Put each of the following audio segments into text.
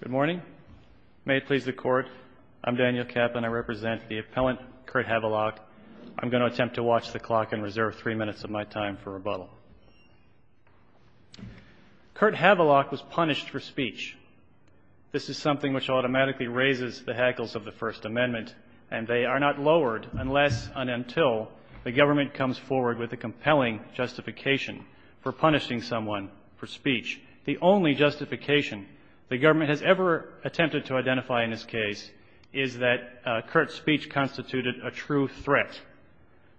Good morning. May it please the Court, I'm Daniel Kapp and I represent the appellant Kurt Havelock. I'm going to attempt to watch the clock and reserve three minutes of my time for rebuttal. Kurt Havelock was punished for speech. This is something which automatically raises the hackles of the First Amendment, and they are not lowered unless and until the government comes forward with a compelling justification for punishing someone for speech. The only justification the government has ever attempted to identify in this case is that Kurt's speech constituted a true threat.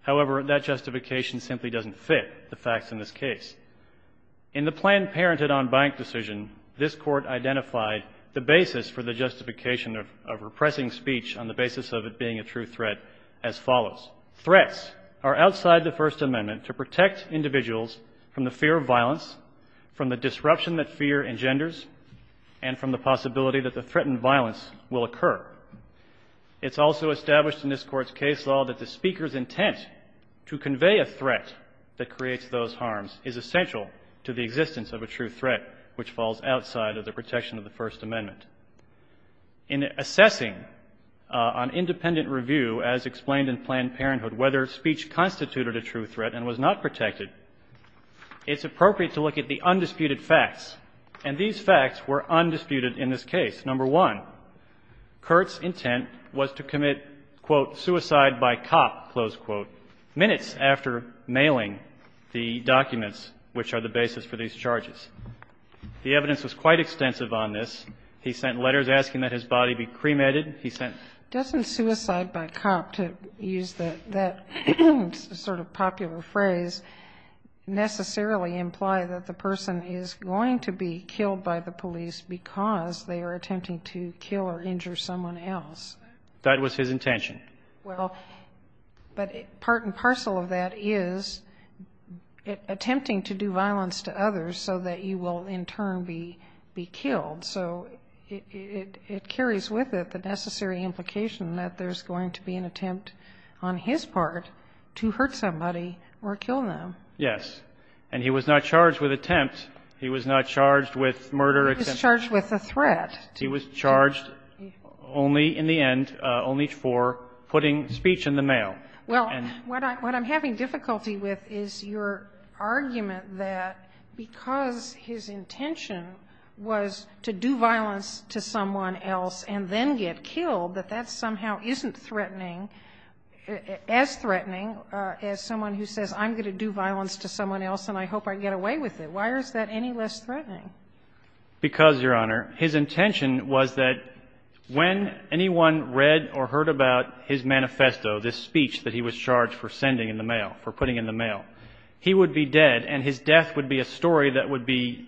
However, that justification simply doesn't fit the facts in this case. In the Planned Parenthood on Bank decision, this Court identified the basis for the justification of repressing speech on the basis of it being a true threat as follows. Threats are outside the First Amendment to protect individuals from the disruption that fear engenders and from the possibility that the threatened violence will occur. It's also established in this Court's case law that the speaker's intent to convey a threat that creates those harms is essential to the existence of a true threat, which falls outside of the protection of the First Amendment. In assessing on independent review, as explained in Planned Parenthood, whether speech constituted a true threat and was not protected, it's appropriate to look at the undisputed facts, and these facts were undisputed in this case. Number one, Kurt's intent was to commit, quote, suicide by cop, close quote, minutes after mailing the documents which are the basis for these charges. The evidence was quite extensive on this. He sent letters asking that his body be cremated. He sent letters. Doesn't suicide by cop, to use that sort of popular phrase, necessarily imply that the person is going to be killed by the police because they are attempting to kill or injure someone else? That was his intention. Well, but part and parcel of that is attempting to do violence to others so that you will in turn be killed. So it carries with it the necessary implication that there's going to be an attempt on his part to hurt somebody or kill them. Yes. And he was not charged with attempt. He was not charged with murder. He was charged with a threat. He was charged only in the end, only for putting speech in the mail. Well, what I'm having difficulty with is your argument that because his intention was to do violence to someone else and then get killed, that that somehow isn't threatening, as threatening as someone who says, I'm going to do violence to someone else and I hope I get away with it. Why is that any less threatening? Because, Your Honor, his intention was that when anyone read or heard about his manifesto, this speech that he was charged for sending in the mail, for putting in the mail, he would be dead and his death would be a story that would be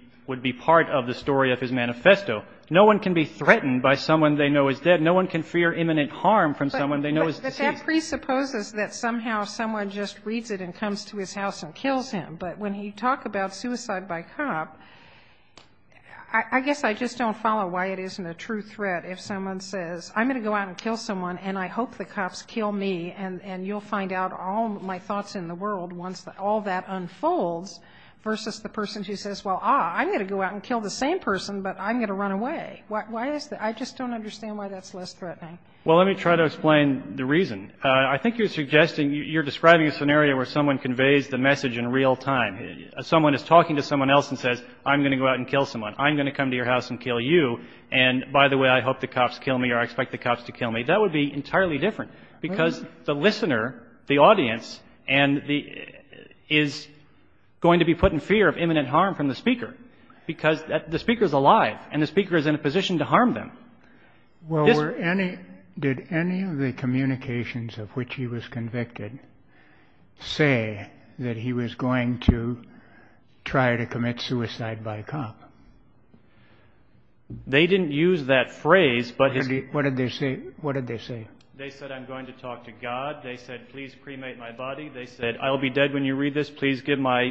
part of the story of his manifesto. No one can be threatened by someone they know is dead. No one can fear imminent harm from someone they know is deceased. But that presupposes that somehow someone just reads it and comes to his house and kills him. But when you talk about suicide by cop, I guess I just don't follow why it isn't a true threat if someone says, I'm going to go out and kill someone and I hope the cops kill me, and you'll find out all my thoughts in the world once all that unfolds, versus the person who says, well, ah, I'm going to go out and kill the same person, but I'm going to run away. Why is that? I just don't understand why that's less threatening. Well, let me try to explain the reason. I think you're suggesting you're describing a scenario where someone conveys the message in real time. Someone is talking to someone else and says, I'm going to go out and kill someone. I'm going to come to your house and kill you. And by the way, I hope the cops kill me or I expect the cops to kill me. That would be entirely different because the listener, the audience, is going to be put in fear of imminent harm from the speaker because the speaker is alive and the speaker is in a position to harm them. Well, did any of the communications of which he was convicted say that he was going to try to commit suicide by a cop? They didn't use that phrase. What did they say? They said, I'm going to talk to God. They said, please cremate my body. They said, I'll be dead when you read this. Please give my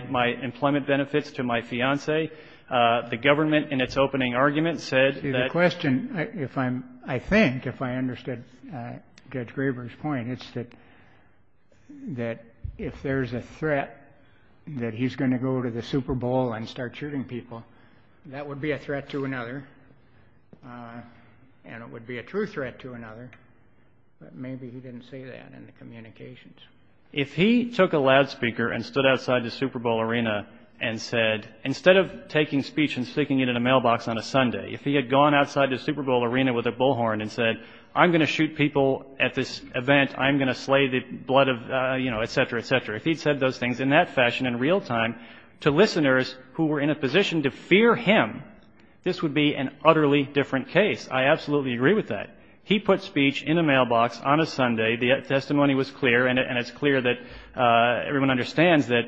employment benefits to my fiancee. The government, in its opening argument, said that. See, the question, I think, if I understood Judge Graber's point, it's that if there's a threat that he's going to go to the Super Bowl and start shooting people, that would be a threat to another, and it would be a true threat to another, but maybe he didn't say that in the communications. If he took a loudspeaker and stood outside the Super Bowl arena and said, instead of taking speech and sticking it in a mailbox on a Sunday, if he had gone outside the Super Bowl arena with a bullhorn and said, I'm going to shoot people at this event. I'm going to slay the blood of, you know, et cetera, et cetera. If he'd said those things in that fashion in real time to listeners who were in a position to fear him, this would be an utterly different case. I absolutely agree with that. He put speech in a mailbox on a Sunday. The testimony was clear, and it's clear that everyone understands that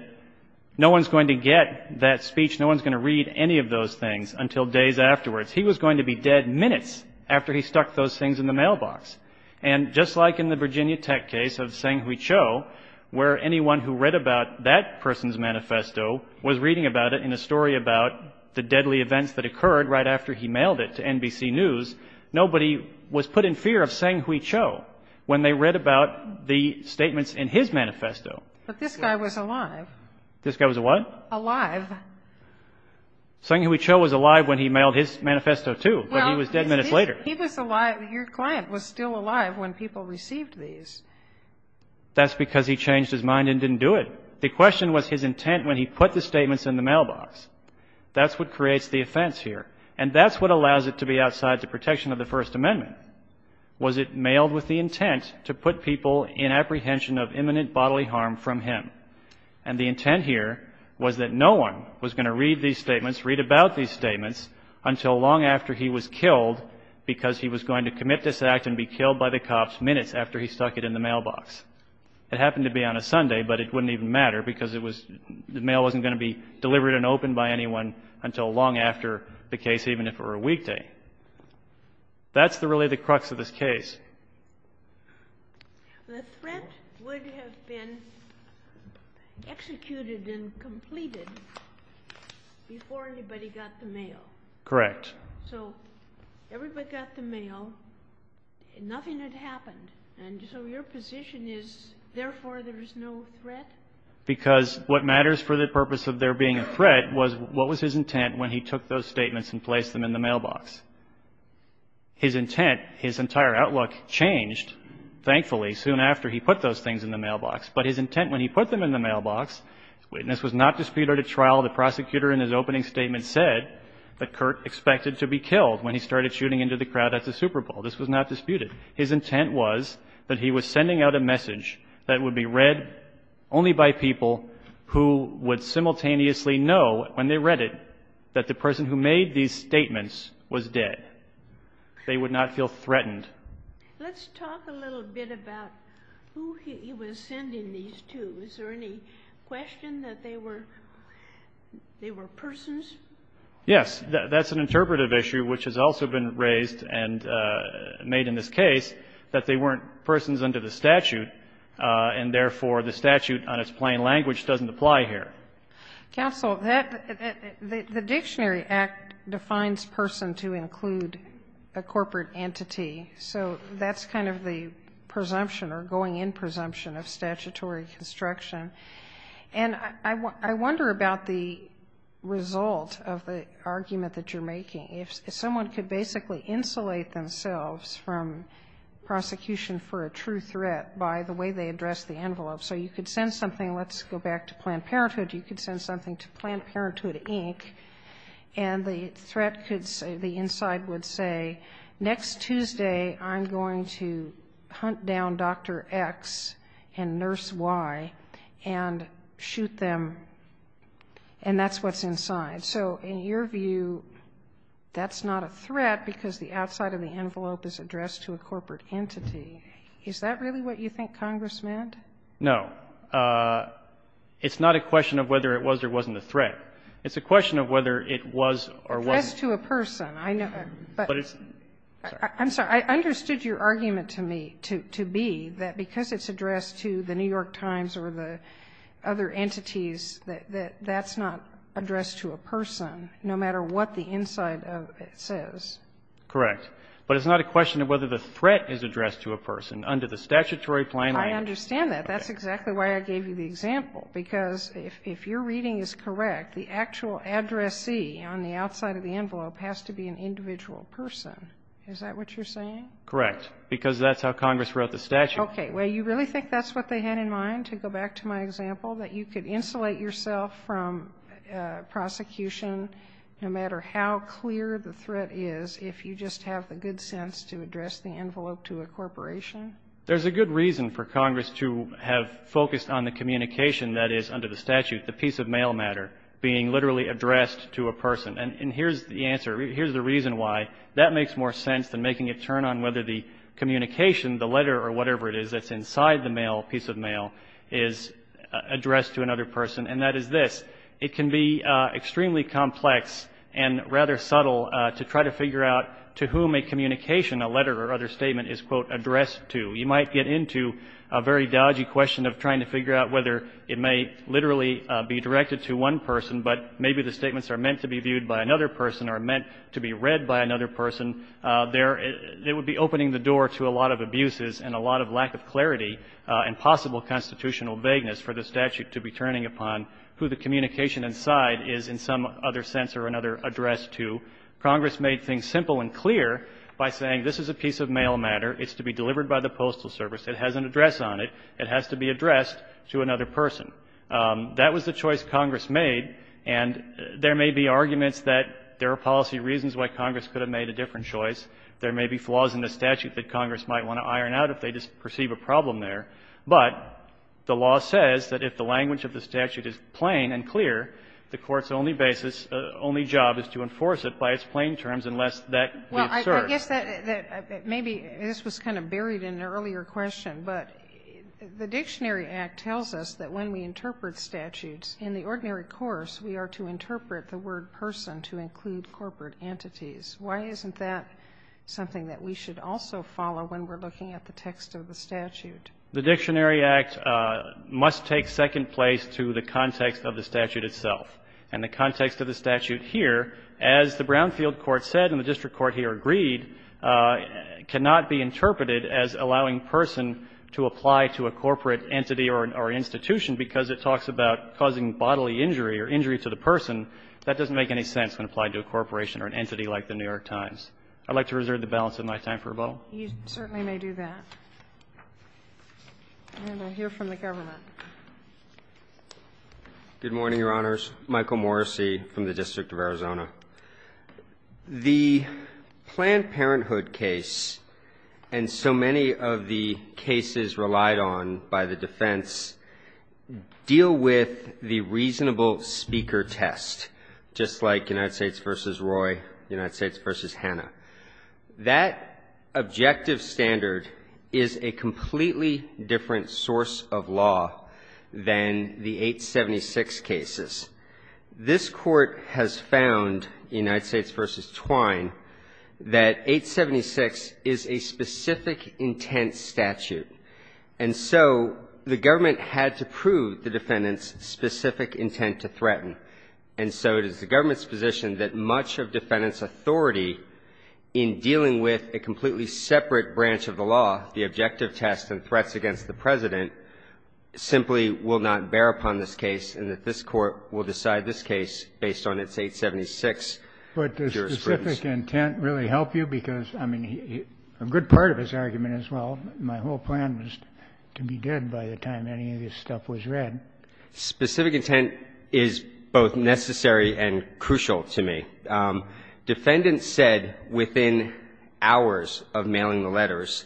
no one's going to get that speech, no one's going to read any of those things until days afterwards. He was going to be dead minutes after he stuck those things in the mailbox. And just like in the Virginia Tech case of Sang Hui Cho, where anyone who read about that person's manifesto was reading about it in a story about the deadly events that occurred right after he mailed it to NBC News, nobody was put in fear of Sang Hui Cho when they read about the statements in his manifesto. But this guy was alive. This guy was what? Alive. Sang Hui Cho was alive when he mailed his manifesto, too, but he was dead minutes later. Your client was still alive when people received these. That's because he changed his mind and didn't do it. The question was his intent when he put the statements in the mailbox. That's what creates the offense here, and that's what allows it to be outside the protection of the First Amendment, was it mailed with the intent to put people in apprehension of imminent bodily harm from him. And the intent here was that no one was going to read these statements, read about these because he was going to commit this act and be killed by the cops minutes after he stuck it in the mailbox. It happened to be on a Sunday, but it wouldn't even matter because the mail wasn't going to be delivered and opened by anyone until long after the case, even if it were a weekday. That's really the crux of this case. The threat would have been executed and completed before anybody got the mail. Correct. So everybody got the mail. Nothing had happened. And so your position is therefore there is no threat? Because what matters for the purpose of there being a threat was what was his intent when he took those statements and placed them in the mailbox. His intent, his entire outlook changed, thankfully, soon after he put those things in the mailbox. But his intent when he put them in the mailbox, the witness was not disputed at trial. The prosecutor in his opening statement said that Kurt expected to be killed when he started shooting into the crowd at the Super Bowl. This was not disputed. His intent was that he was sending out a message that would be read only by people who would simultaneously know when they read it that the person who made these statements was dead. They would not feel threatened. Let's talk a little bit about who he was sending these to. Is there any question that they were persons? Yes. That's an interpretive issue which has also been raised and made in this case that they weren't persons under the statute, and therefore the statute on its plain language doesn't apply here. Counsel, the Dictionary Act defines person to include a corporate entity. So that's kind of the presumption or going in presumption of statutory construction. And I wonder about the result of the argument that you're making. If someone could basically insulate themselves from prosecution for a true threat by the way they address the envelope. So you could send something, let's go back to Planned Parenthood, you could send something to Planned Parenthood, Inc., and the threat could say, the inside would say, next Tuesday I'm going to hunt down Dr. X and Nurse Y and shoot them, and that's what's inside. So in your view, that's not a threat because the outside of the envelope is addressed to a corporate entity. Is that really what you think Congress meant? No. It's not a question of whether it was or wasn't a threat. It's a question of whether it was or wasn't a threat. Addressed to a person. I'm sorry. I understood your argument to me to be that because it's addressed to the New York Times or the other entities, that that's not addressed to a person, no matter what the inside of it says. Correct. But it's not a question of whether the threat is addressed to a person under the statutory plain language. I understand that. But that's exactly why I gave you the example, because if your reading is correct, the actual addressee on the outside of the envelope has to be an individual person. Is that what you're saying? Correct. Because that's how Congress wrote the statute. Okay. Well, you really think that's what they had in mind, to go back to my example, that you could insulate yourself from prosecution no matter how clear the threat is if you just have the good sense to address the envelope to a corporation? There's a good reason for Congress to have focused on the communication that is under the statute, the piece of mail matter, being literally addressed to a person. And here's the answer. Here's the reason why. That makes more sense than making a turn on whether the communication, the letter or whatever it is that's inside the mail, piece of mail, is addressed to another person. And that is this. It can be extremely complex and rather subtle to try to figure out to whom a communication, a letter or other statement, is, quote, addressed to. You might get into a very dodgy question of trying to figure out whether it may literally be directed to one person, but maybe the statements are meant to be viewed by another person or meant to be read by another person. There — it would be opening the door to a lot of abuses and a lot of lack of clarity and possible constitutional vagueness for the statute to be turning upon who the communication inside is in some other sense or another addressed to. Congress made things simple and clear by saying this is a piece of mail matter. It's to be delivered by the Postal Service. It has an address on it. It has to be addressed to another person. That was the choice Congress made. And there may be arguments that there are policy reasons why Congress could have made a different choice. There may be flaws in the statute that Congress might want to iron out if they perceive a problem there. But the law says that if the language of the statute is plain and clear, the Court's only basis, only job is to enforce it by its plain terms unless that is served. Well, I guess that maybe this was kind of buried in an earlier question, but the Dictionary Act tells us that when we interpret statutes in the ordinary course, we are to interpret the word person to include corporate entities. Why isn't that something that we should also follow when we're looking at the text of the statute? The Dictionary Act must take second place to the context of the statute itself. And the context of the statute here, as the Brownfield Court said and the district court here agreed, cannot be interpreted as allowing person to apply to a corporate entity or institution because it talks about causing bodily injury or injury to the person. That doesn't make any sense when applied to a corporation or an entity like the New York Times. I'd like to reserve the balance of my time for rebuttal. You certainly may do that. And I'll hear from the government. Good morning, Your Honors. Michael Morrissey from the District of Arizona. The Planned Parenthood case and so many of the cases relied on by the defense deal with the reasonable speaker test, just like United States v. Roy, United States v. Hanna. That objective standard is a completely different source of law than the 876 cases. This Court has found, United States v. Twine, that 876 is a specific intent statute. And so the government had to prove the defendant's specific intent to threaten. And so it is the government's position that much of defendant's authority in dealing with a completely separate branch of the law, the objective test and threats against the President, simply will not bear upon this case and that this Court will decide this case based on its 876 jurisprudence. But does specific intent really help you? Because, I mean, a good part of his argument is, well, my whole plan was to be dead by the time any of this stuff was read. Specific intent is both necessary and crucial to me. Defendant said within hours of mailing the letters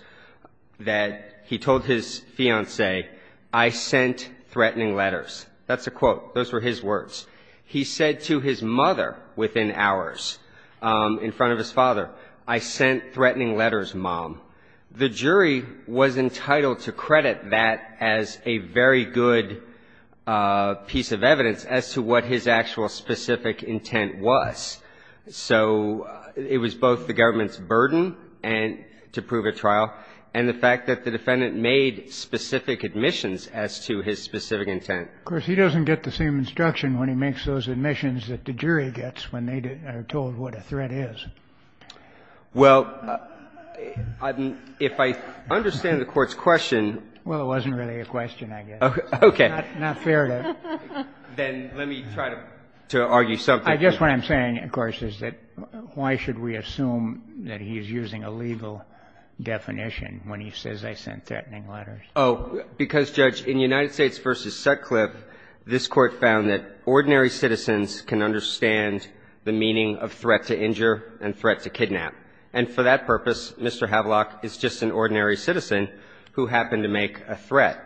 that he told his fiancée, I sent threatening letters. That's a quote. Those were his words. He said to his mother within hours in front of his father, I sent threatening letters, Mom. The jury was entitled to credit that as a very good piece of evidence as to what his actual specific intent was. So it was both the government's burden and to prove a trial and the fact that the defendant made specific admissions as to his specific intent. Of course, he doesn't get the same instruction when he makes those admissions that the jury gets when they are told what a threat is. Well, if I understand the Court's question — Well, it wasn't really a question, I guess. Okay. Not fair to — Then let me try to argue something. I guess what I'm saying, of course, is that why should we assume that he's using a legal definition when he says I sent threatening letters? Oh, because, Judge, in United States v. Sutcliffe, this Court found that ordinary citizens can understand the meaning of threat to injure and threat to kidnap. And for that purpose, Mr. Havlock is just an ordinary citizen who happened to make a threat.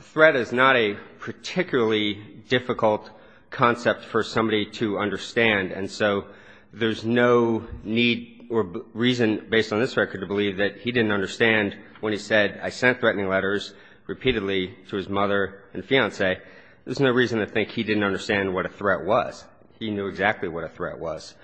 Threat is not a particularly difficult concept for somebody to understand. And so there's no need or reason based on this record to believe that he didn't understand when he said I sent threatening letters repeatedly to his mother and fiance. There's no reason to think he didn't understand what a threat was. He knew exactly what a threat was.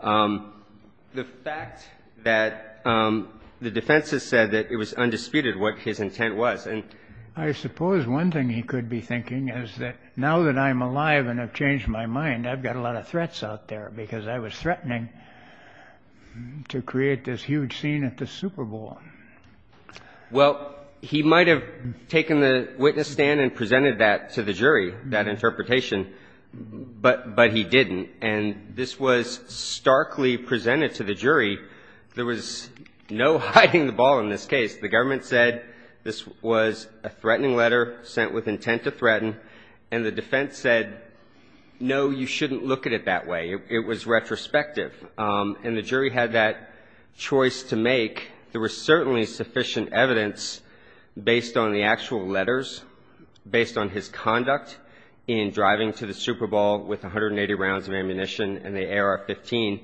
The fact that the defense has said that it was undisputed what his intent was and — I suppose one thing he could be thinking is that now that I'm alive and have changed my mind, I've got a lot of threats out there because I was threatening to create this huge scene at the Super Bowl. Well, he might have taken the witness stand and presented that to the jury, that interpretation, but — but he didn't. And this was starkly presented to the jury. There was no hiding the ball in this case. The government said this was a threatening letter sent with intent to threaten, and the defense said, no, you shouldn't look at it that way. It was retrospective. And the jury had that choice to make. There was certainly sufficient evidence based on the actual letters, based on his conduct in driving to the Super Bowl with 180 rounds of ammunition and the AR-15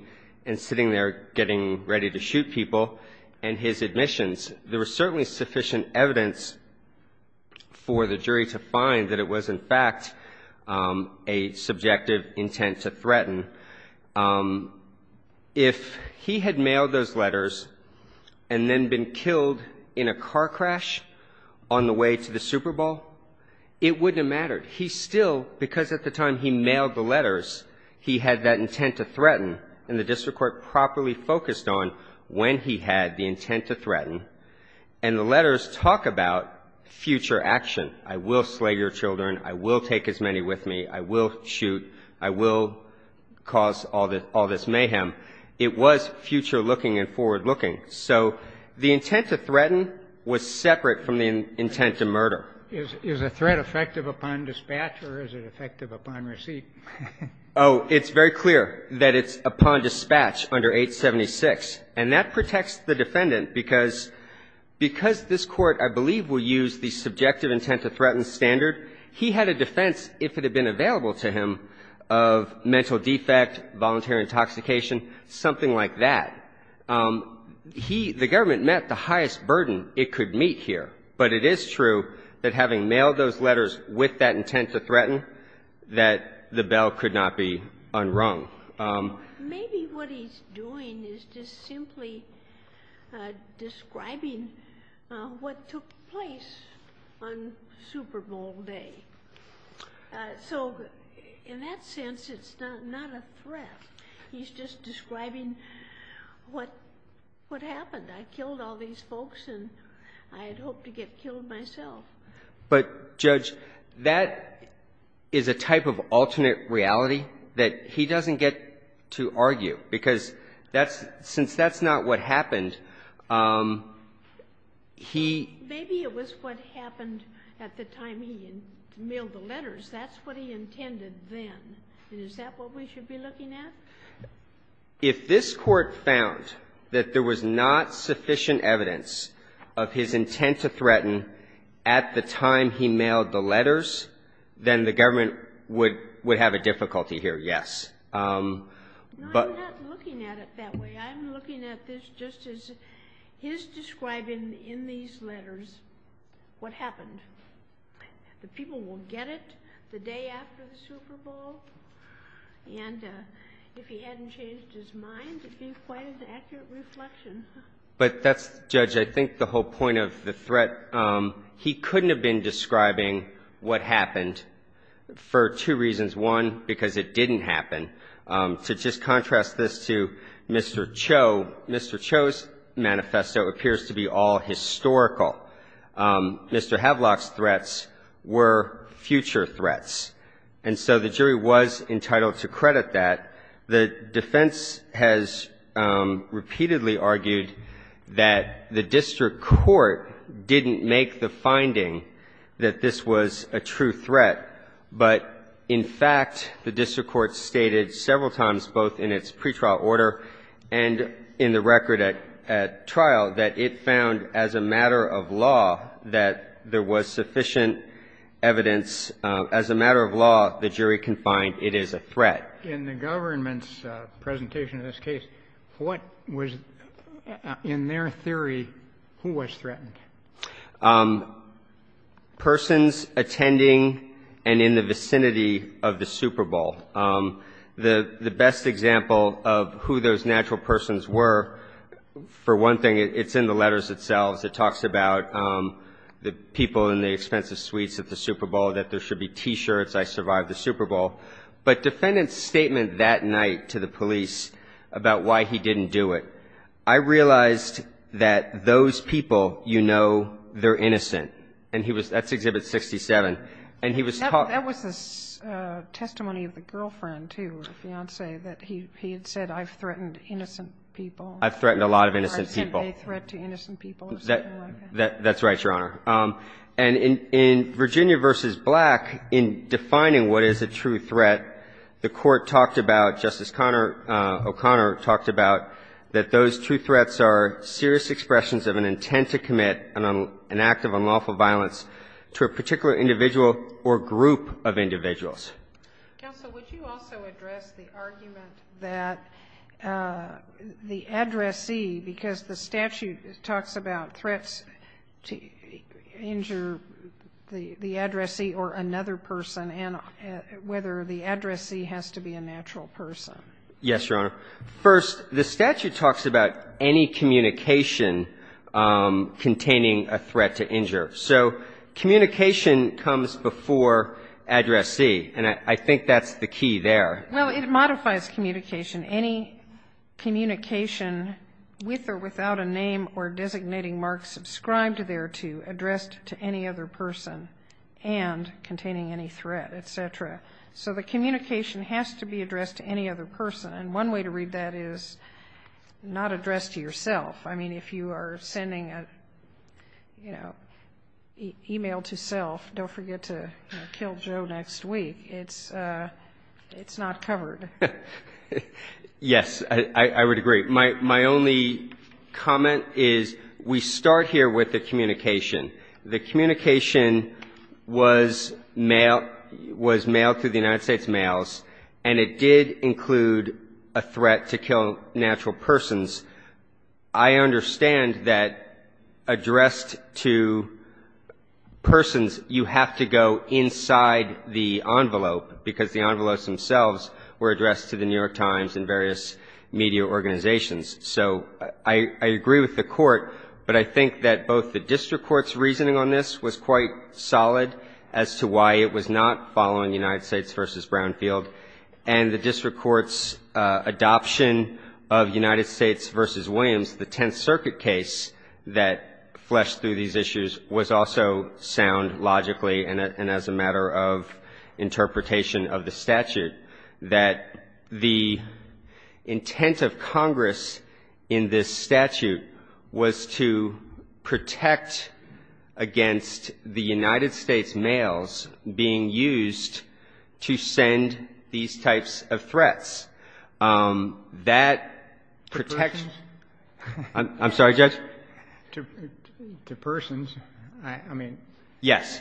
and sitting there getting ready to shoot people, and his admissions. There was certainly sufficient evidence for the jury to find that it was, in fact, a subjective intent to threaten. If he had mailed those letters and then been killed in a car crash on the way to the Super Bowl, it wouldn't have mattered. He still — because at the time he mailed the letters, he had that intent to threaten, and the district court properly focused on when he had the intent to threaten. And the letters talk about future action. I will slay your children. I will take as many with me. I will shoot. I will cause all this mayhem. It was future looking and forward looking. So the intent to threaten was separate from the intent to murder. Is a threat effective upon dispatch or is it effective upon receipt? Oh, it's very clear that it's upon dispatch under 876. And that protects the defendant because this Court, I believe, will use the subjective intent to threaten standard. He had a defense, if it had been available to him, of mental defect, voluntary intoxication, something like that. He — the government met the highest burden it could meet here. But it is true that having mailed those letters with that intent to threaten, that the bell could not be unrung. Maybe what he's doing is just simply describing what took place on Super Bowl Day. So in that sense, it's not a threat. He's just describing what happened. I killed all these folks and I had hoped to get killed myself. But, Judge, that is a type of alternate reality that he doesn't get to argue. Because that's — since that's not what happened, he — he mailed the letters. That's what he intended then. And is that what we should be looking at? If this Court found that there was not sufficient evidence of his intent to threaten at the time he mailed the letters, then the government would — would have a difficulty here, yes. But — I'm not looking at it that way. I'm looking at this just as his describing in these letters what happened. The people will get it the day after the Super Bowl. And if he hadn't changed his mind, it would be quite an accurate reflection. But that's — Judge, I think the whole point of the threat, he couldn't have been describing what happened for two reasons. One, because it didn't happen. To just contrast this to Mr. Cho, Mr. Cho's manifesto appears to be all historical. Mr. Havelock's threats were future threats. And so the jury was entitled to credit that. The defense has repeatedly argued that the district court didn't make the finding that this was a true threat. But, in fact, the district court stated several times, both in its pretrial order and in the record at trial, that it found, as a matter of law, that there was sufficient evidence — as a matter of law, the jury can find it is a threat. In the government's presentation of this case, what was — in their theory, who was threatened? Persons attending and in the vicinity of the Super Bowl. The best example of who those natural persons were, for one thing, it's in the letters themselves. It talks about the people in the expensive suites at the Super Bowl, that there should be T-shirts, I survived the Super Bowl. But defendants' statement that night to the police about why he didn't do it, I realized that those people, you know, they're innocent. And he was — that's Exhibit 67. And he was — Well, that was the testimony of the girlfriend, too, or the fiancée, that he had said, I've threatened innocent people. I've threatened a lot of innocent people. Or I said they threat to innocent people or something like that. That's right, Your Honor. And in Virginia v. Black, in defining what is a true threat, the Court talked about — Justice O'Connor talked about that those true threats are serious expressions of an intent to commit an act of unlawful violence to a particular individual or group of individuals. Counsel, would you also address the argument that the addressee, because the statute talks about threats to injure the addressee or another person, and whether the addressee has to be a natural person? Yes, Your Honor. First, the statute talks about any communication containing a threat to injure. So communication comes before addressee. And I think that's the key there. Well, it modifies communication. Any communication with or without a name or designating mark subscribed thereto addressed to any other person and containing any threat, et cetera. So the communication has to be addressed to any other person. And one way to read that is not addressed to yourself. I mean, if you are sending an email to self, don't forget to kill Joe next week. It's not covered. Yes, I would agree. My only comment is we start here with the communication. The communication was mailed through the United States mails and it did include a threat to kill natural persons. I understand that addressed to persons, you have to go inside the envelope because the envelopes themselves were addressed to the New York Times and various media organizations. So I agree with the Court, but I think that both the district court's reasoning on this was quite solid as to why it was not following United States v. Brownfield and the district court's adoption of United States v. Williams, the Tenth Circuit case that fleshed through these issues, was also sound logically and as a matter of interpretation of the statute that the intent of Congress in this statute was to protect against the United States mails being used to send these types of threats. That protects... To persons? I'm sorry, Judge? To persons. I mean... Yes.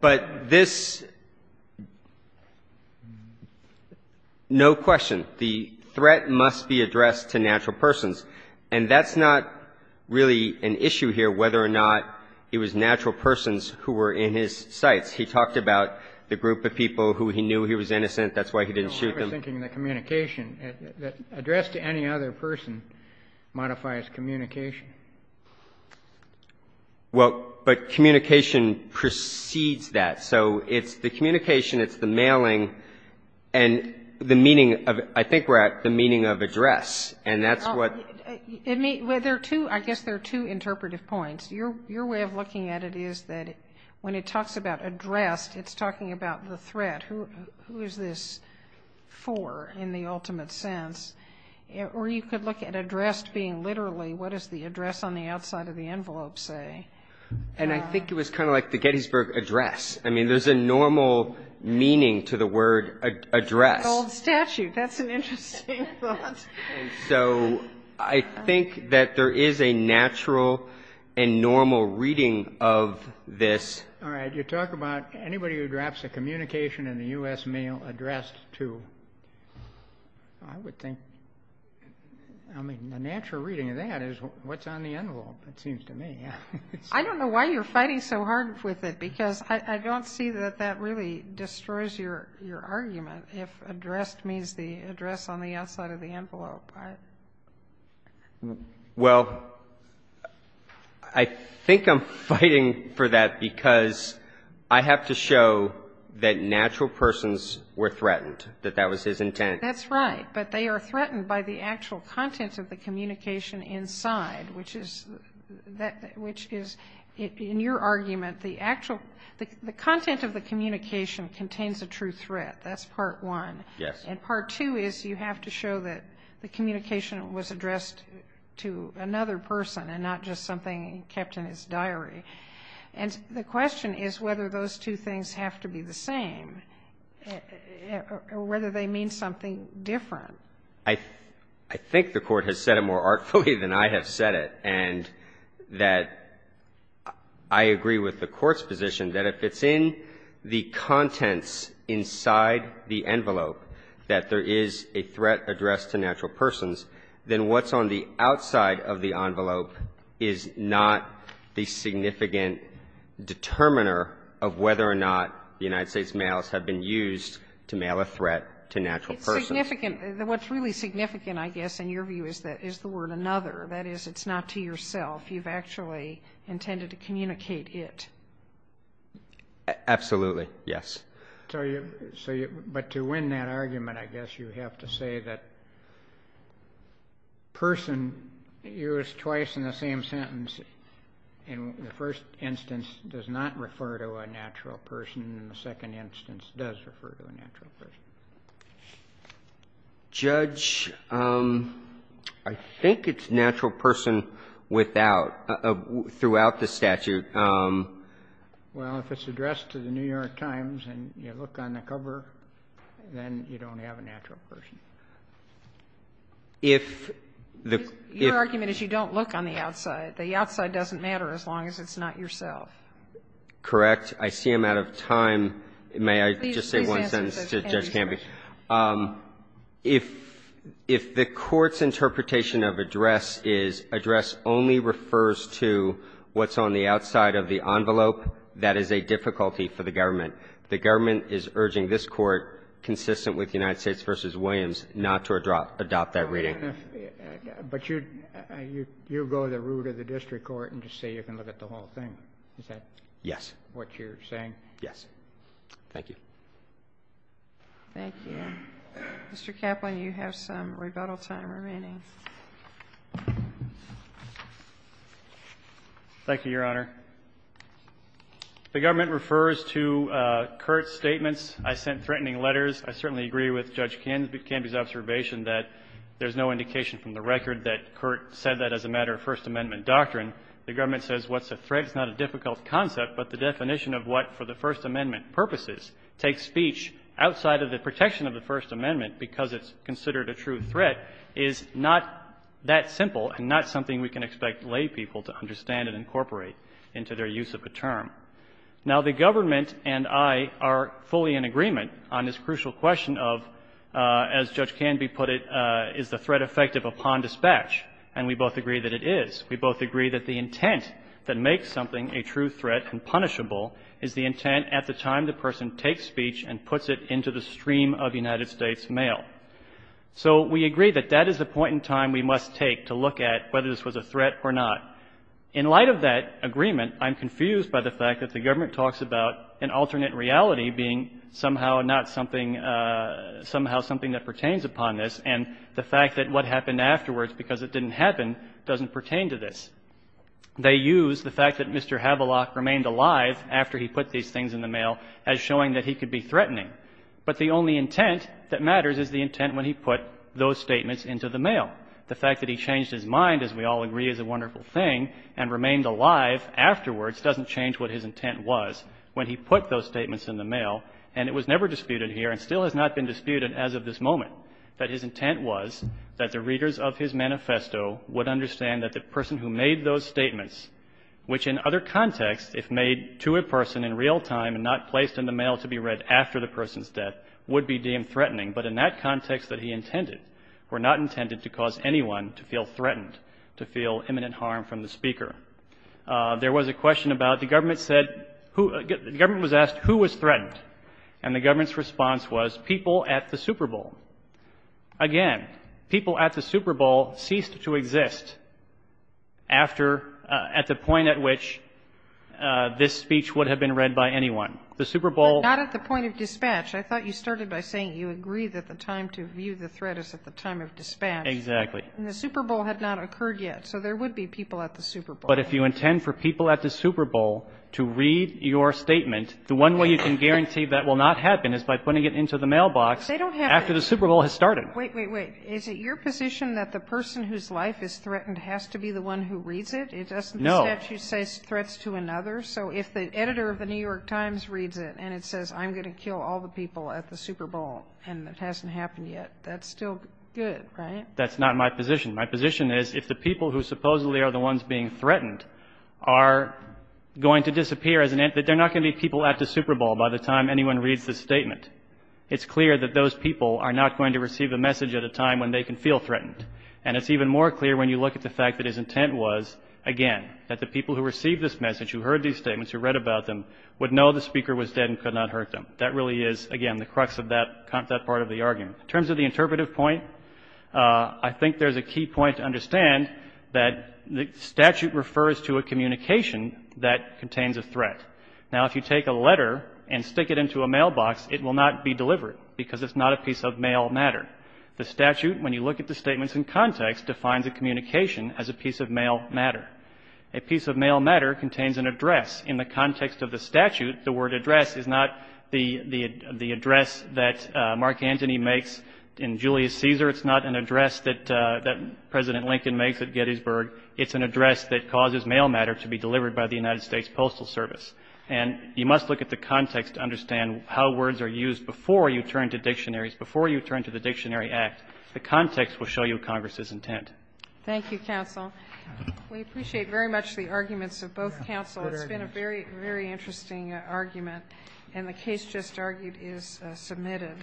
But this... No question. The threat must be addressed to natural persons and that's not really an issue here whether or not it was natural persons who were in his sites. He talked about the group of people who he knew he was innocent. That's why he didn't shoot them. I was thinking the communication. Address to any other person modifies communication. Well, but communication precedes that. So it's the communication, it's the mailing, and the meaning of... I think we're at the meaning of address and that's what... I guess there are two interpretive points. Your way of looking at it is that when it talks about addressed, it's talking about the threat. Who is this for in the ultimate sense? Or you could look at addressed being literally what does the address on the outside of the envelope say? And I think it was kind of like the Gettysburg Address. I mean, there's a normal meaning to the word address. Old statute. That's an interesting thought. So I think that there is a natural and normal reading of this. All right. You talk about anybody who drops a communication in the U.S. mail addressed to... I would think... I mean, the natural reading of that is what's on the envelope, it seems to me. I don't know why you're fighting so hard with it because I don't see that that really destroys your argument if addressed means the address on the outside of the envelope. Well, I think I'm fighting for that because I have to show that natural persons were threatened, that that was his intent. That's right. But they are threatened by the actual content of the communication inside, which is, in your argument, the content of the communication contains a true threat. That's part one. Yes. And part two is you have to show that the communication was addressed to another person and not just something kept in his diary. And the question is whether those two things have to be the same or whether they mean something different. I think the Court has said it more artfully than I have said it and that I agree with the Court's position that if it's in the contents inside the envelope that there is a threat addressed to natural persons, then what's on the outside of the envelope is not the significant determiner of whether or not the United States mails have been used to mail a threat to natural persons. It's significant. What's really significant, I guess, in your view, is the word another. That is, it's not to yourself. You've actually intended to communicate it. Absolutely. Yes. But to win that argument, I guess you have to say that person used twice in the same sentence in the first instance does not refer to a natural person and the second instance does refer to a natural person. Judge, I think it's natural person without, throughout the statute. Well, if it's addressed to the New York Times and you look on the cover, then you don't have a natural person. Your argument is you don't look on the outside. The outside doesn't matter as long as it's not yourself. Correct. I see I'm out of time. May I just say one sentence to Judge Campbell? If the Court's interpretation of address is address only refers to what's on the outside of the envelope, that is a difficulty for the government. The government is urging this Court, consistent with United States v. Williams, not to adopt that reading. But you go to the root of the district court and just say you can look at the whole thing. Is that what you're saying? Yes. Thank you. Thank you. Mr. Kaplan, you have some rebuttal time remaining. Thank you, Your Honor. The government refers to Curt's statements. I sent threatening letters. I certainly agree with Judge Campbell's observation that there's no indication from the record that Curt said that as a matter of First Amendment doctrine. The government says what's a threat is not a difficult concept, but the definition of what, for the First Amendment purposes, takes speech outside of the protection of the First Amendment because it's considered a true threat is not that simple and not something we can expect laypeople to understand and incorporate into their use of a term. Now, the government and I are fully in agreement on this crucial question of, as Judge Canby put it, is the threat effective upon dispatch? And we both agree that it is. We both agree that the intent that makes something a true threat and punishable is the intent at the time the person takes speech and puts it into the stream of United States mail. So we agree that that is the point in time we must take to look at whether this was a threat or not. In light of that agreement, I'm confused by the fact that the government talks about an alternate reality being somehow not something somehow something that pertains upon this and the fact that what happened afterwards because it didn't happen doesn't pertain to this. They use the fact that Mr. Havelock remained alive after he put these things in the mail as showing that he could be threatening. But the only intent that matters is the intent when he put those statements into the mail. The fact that he changed his mind, as we all agree, is a wonderful thing and remained alive afterwards doesn't change what his intent was when he put those statements in the mail and it was never disputed here and still has not been disputed as of this moment that his intent was that the readers of his manifesto would understand that the person who made those statements which in other contexts if made to a person in real time and not placed in the mail to be read after the person's death would be deemed threatening but in that context that he intended were not intended to cause anyone to feel threatened to feel imminent harm from the speaker. There was a question about the government said the government was asked who was threatened and the government's response was people at the Super Bowl. Again, people at the Super Bowl ceased to exist after at the point at which this speech would have been read by anyone. Not at the point of dispatch. I thought you started by saying you agree that the time to view the threat is at the time of dispatch. Exactly. And the Super Bowl had not occurred yet so there would be people at the Super Bowl. But if you intend for people at the Super Bowl to read your statement the one way you can guarantee that will not happen is by putting it into the mailbox after the Super Bowl has started. Wait, wait, wait. Is it your position that the person whose life is threatened has to be the one who reads it? No. It doesn't say threats to another so if the editor of the New York Times reads it and it says I'm going to kill all the people at the Super Bowl and it hasn't happened yet that's still good, right? That's not my position. My position is if the people who supposedly are the ones being threatened are going to disappear that they're not going to be people at the Super Bowl by the time anyone reads the statement. It's clear that those people are not going to receive a message at a time when they can feel threatened. And it's even more clear when you look at the fact that his intent was again, that the people who received this message who heard these statements, who read about them would know the speaker was dead and could not hurt them. That really is, again, the crux of that part of the argument. In terms of the interpretive point I think there's a key point to understand that the statute refers to a communication that contains a threat. Now if you take a letter and stick it into a mailbox it will not be delivered because it's not a piece of mail matter. The statute, when you look at the statements in context defines a communication as a piece of mail matter. A piece of mail matter contains an address in the context of the statute the word address is not the address that Mark Antony makes in Julius Caesar it's not an address that President Lincoln makes at Gettysburg it's an address that causes mail matter to be delivered by the United States Postal Service and you must look at the context to understand how words are used before you turn to dictionaries before you turn to the Dictionary Act the context will show you Congress' intent. Thank you, counsel. We appreciate very much the arguments of both counsel it's been a very interesting argument and the case just argued is submitted.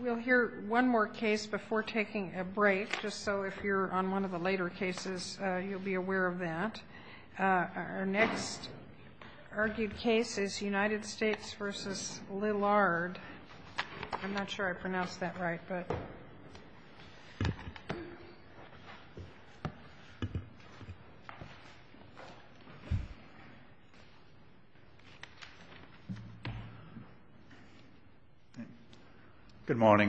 We'll hear one more case before taking a break just so if you're on one of the later cases you'll be aware of that. Our next argued case is United States v. Lillard I'm not sure I pronounced that right but Good morning.